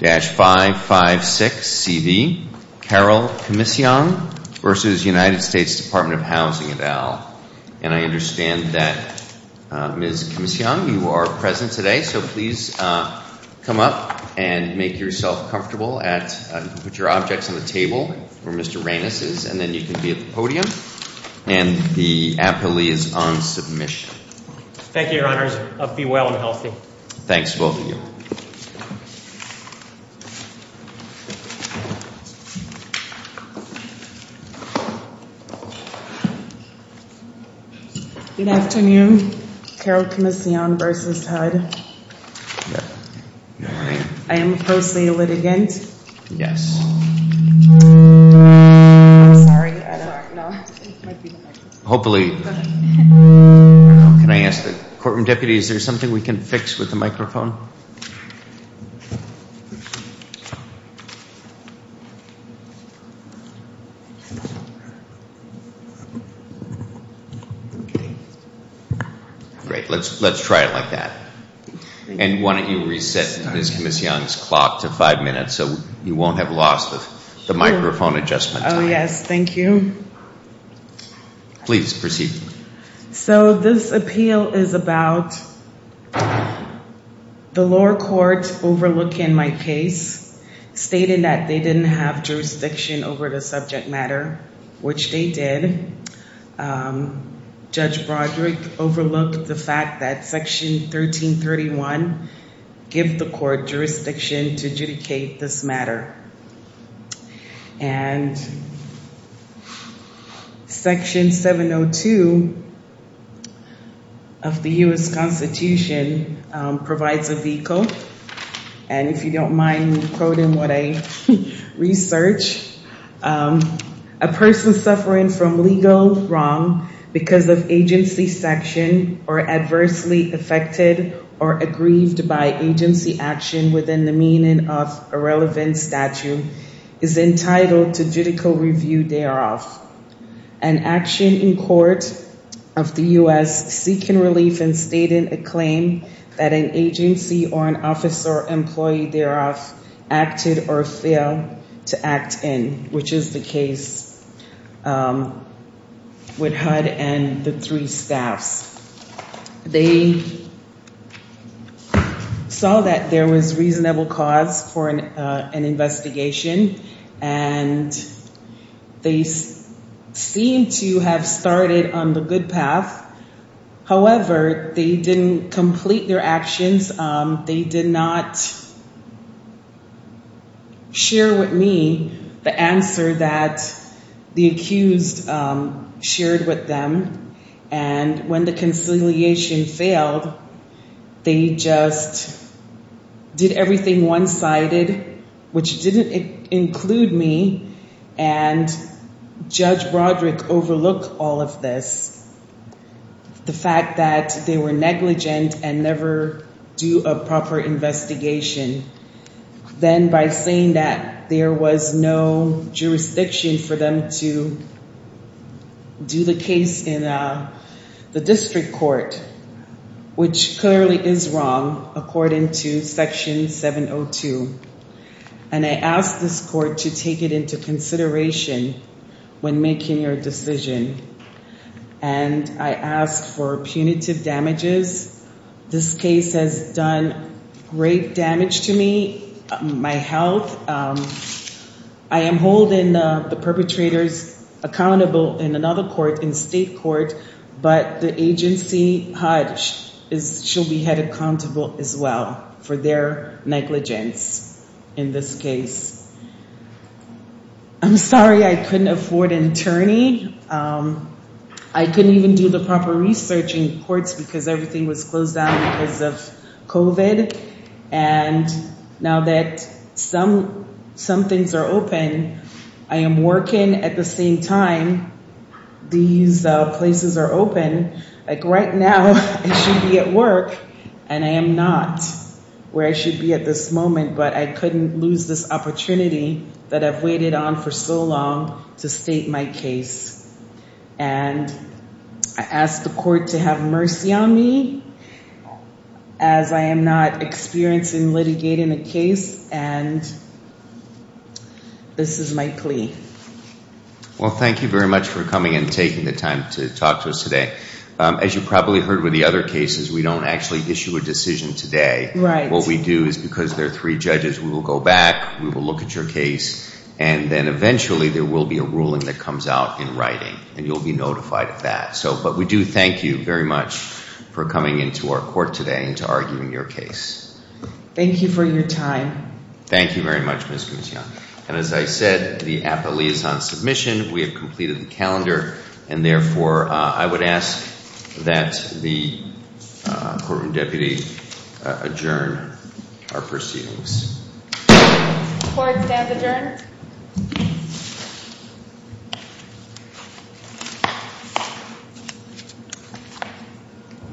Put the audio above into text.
21-556-CV, Carol Comiseong v. US Dept. Housing & Urban Devel Ms. Comiseong, you are present today, so please come up and make yourself comfortable. Put your objects on the table where Mr. Reines is, and then you can be at the podium. And the appellee is on submission. Thank you, Your Honors. Be well and healthy. Thanks, both of you. Good afternoon. Carol Comiseong v. HUD. Good morning. I am closely a litigant. Yes. I'm sorry, I don't know. Hopefully... Can I ask the Courtroom Deputy, is there something we can fix with the microphone? Great. Let's try it like that. And why don't you reset Ms. Comiseong's clock to five minutes, so you won't have lost the microphone adjustment time. Oh, yes. Thank you. Please proceed. So, this appeal is about the lower court overlooking my case, stating that they didn't have jurisdiction over the subject matter, which they did. Judge Broderick overlooked the fact that Section 1331 gives the court jurisdiction to adjudicate this matter. And Section 702 of the U.S. Constitution provides a vehicle. And if you don't mind me quoting what I researched, a person suffering from legal wrong because of agency section or adversely affected or aggrieved by agency action within the meaning of a relevant statute is entitled to judicial review thereof. An action in court of the U.S. seeking relief in stating a claim that an agency or an office or employee thereof acted or failed to act in, which is the case with HUD and the three staffs. They saw that there was reasonable cause for an investigation, and they seem to have started on the good path. However, they didn't complete their actions. They did not share with me the answer that the accused shared with them. And when the conciliation failed, they just did everything one-sided, which didn't include me. And Judge Broderick overlooked all of this, the fact that they were negligent and never do a proper investigation. Then by saying that there was no jurisdiction for them to do the case in the district court, which clearly is wrong, according to Section 702. And I ask this court to take it into consideration when making your decision. And I ask for punitive damages. This case has done great damage to me, my health. I am holding the perpetrators accountable in another court, in state court. But the agency, HUD, shall be held accountable as well for their negligence in this case. I'm sorry I couldn't afford an attorney. I couldn't even do the proper research in courts because everything was closed down because of COVID. And now that some things are open, I am working at the same time these places are open. Like right now, I should be at work, and I am not where I should be at this moment. But I couldn't lose this opportunity that I've waited on for so long to state my case. And I ask the court to have mercy on me as I am not experiencing litigating a case. And this is my plea. Well, thank you very much for coming and taking the time to talk to us today. As you probably heard with the other cases, we don't actually issue a decision today. What we do is because there are three judges, we will go back, we will look at your case, and then eventually there will be a ruling that comes out in writing, and you'll be notified of that. But we do thank you very much for coming into our court today and to arguing your case. Thank you for your time. Thank you very much, Ms. Guzian. And as I said, the appellee is on submission. We have completed the calendar. And, therefore, I would ask that the courtroom deputy adjourn our proceedings. Court is now adjourned.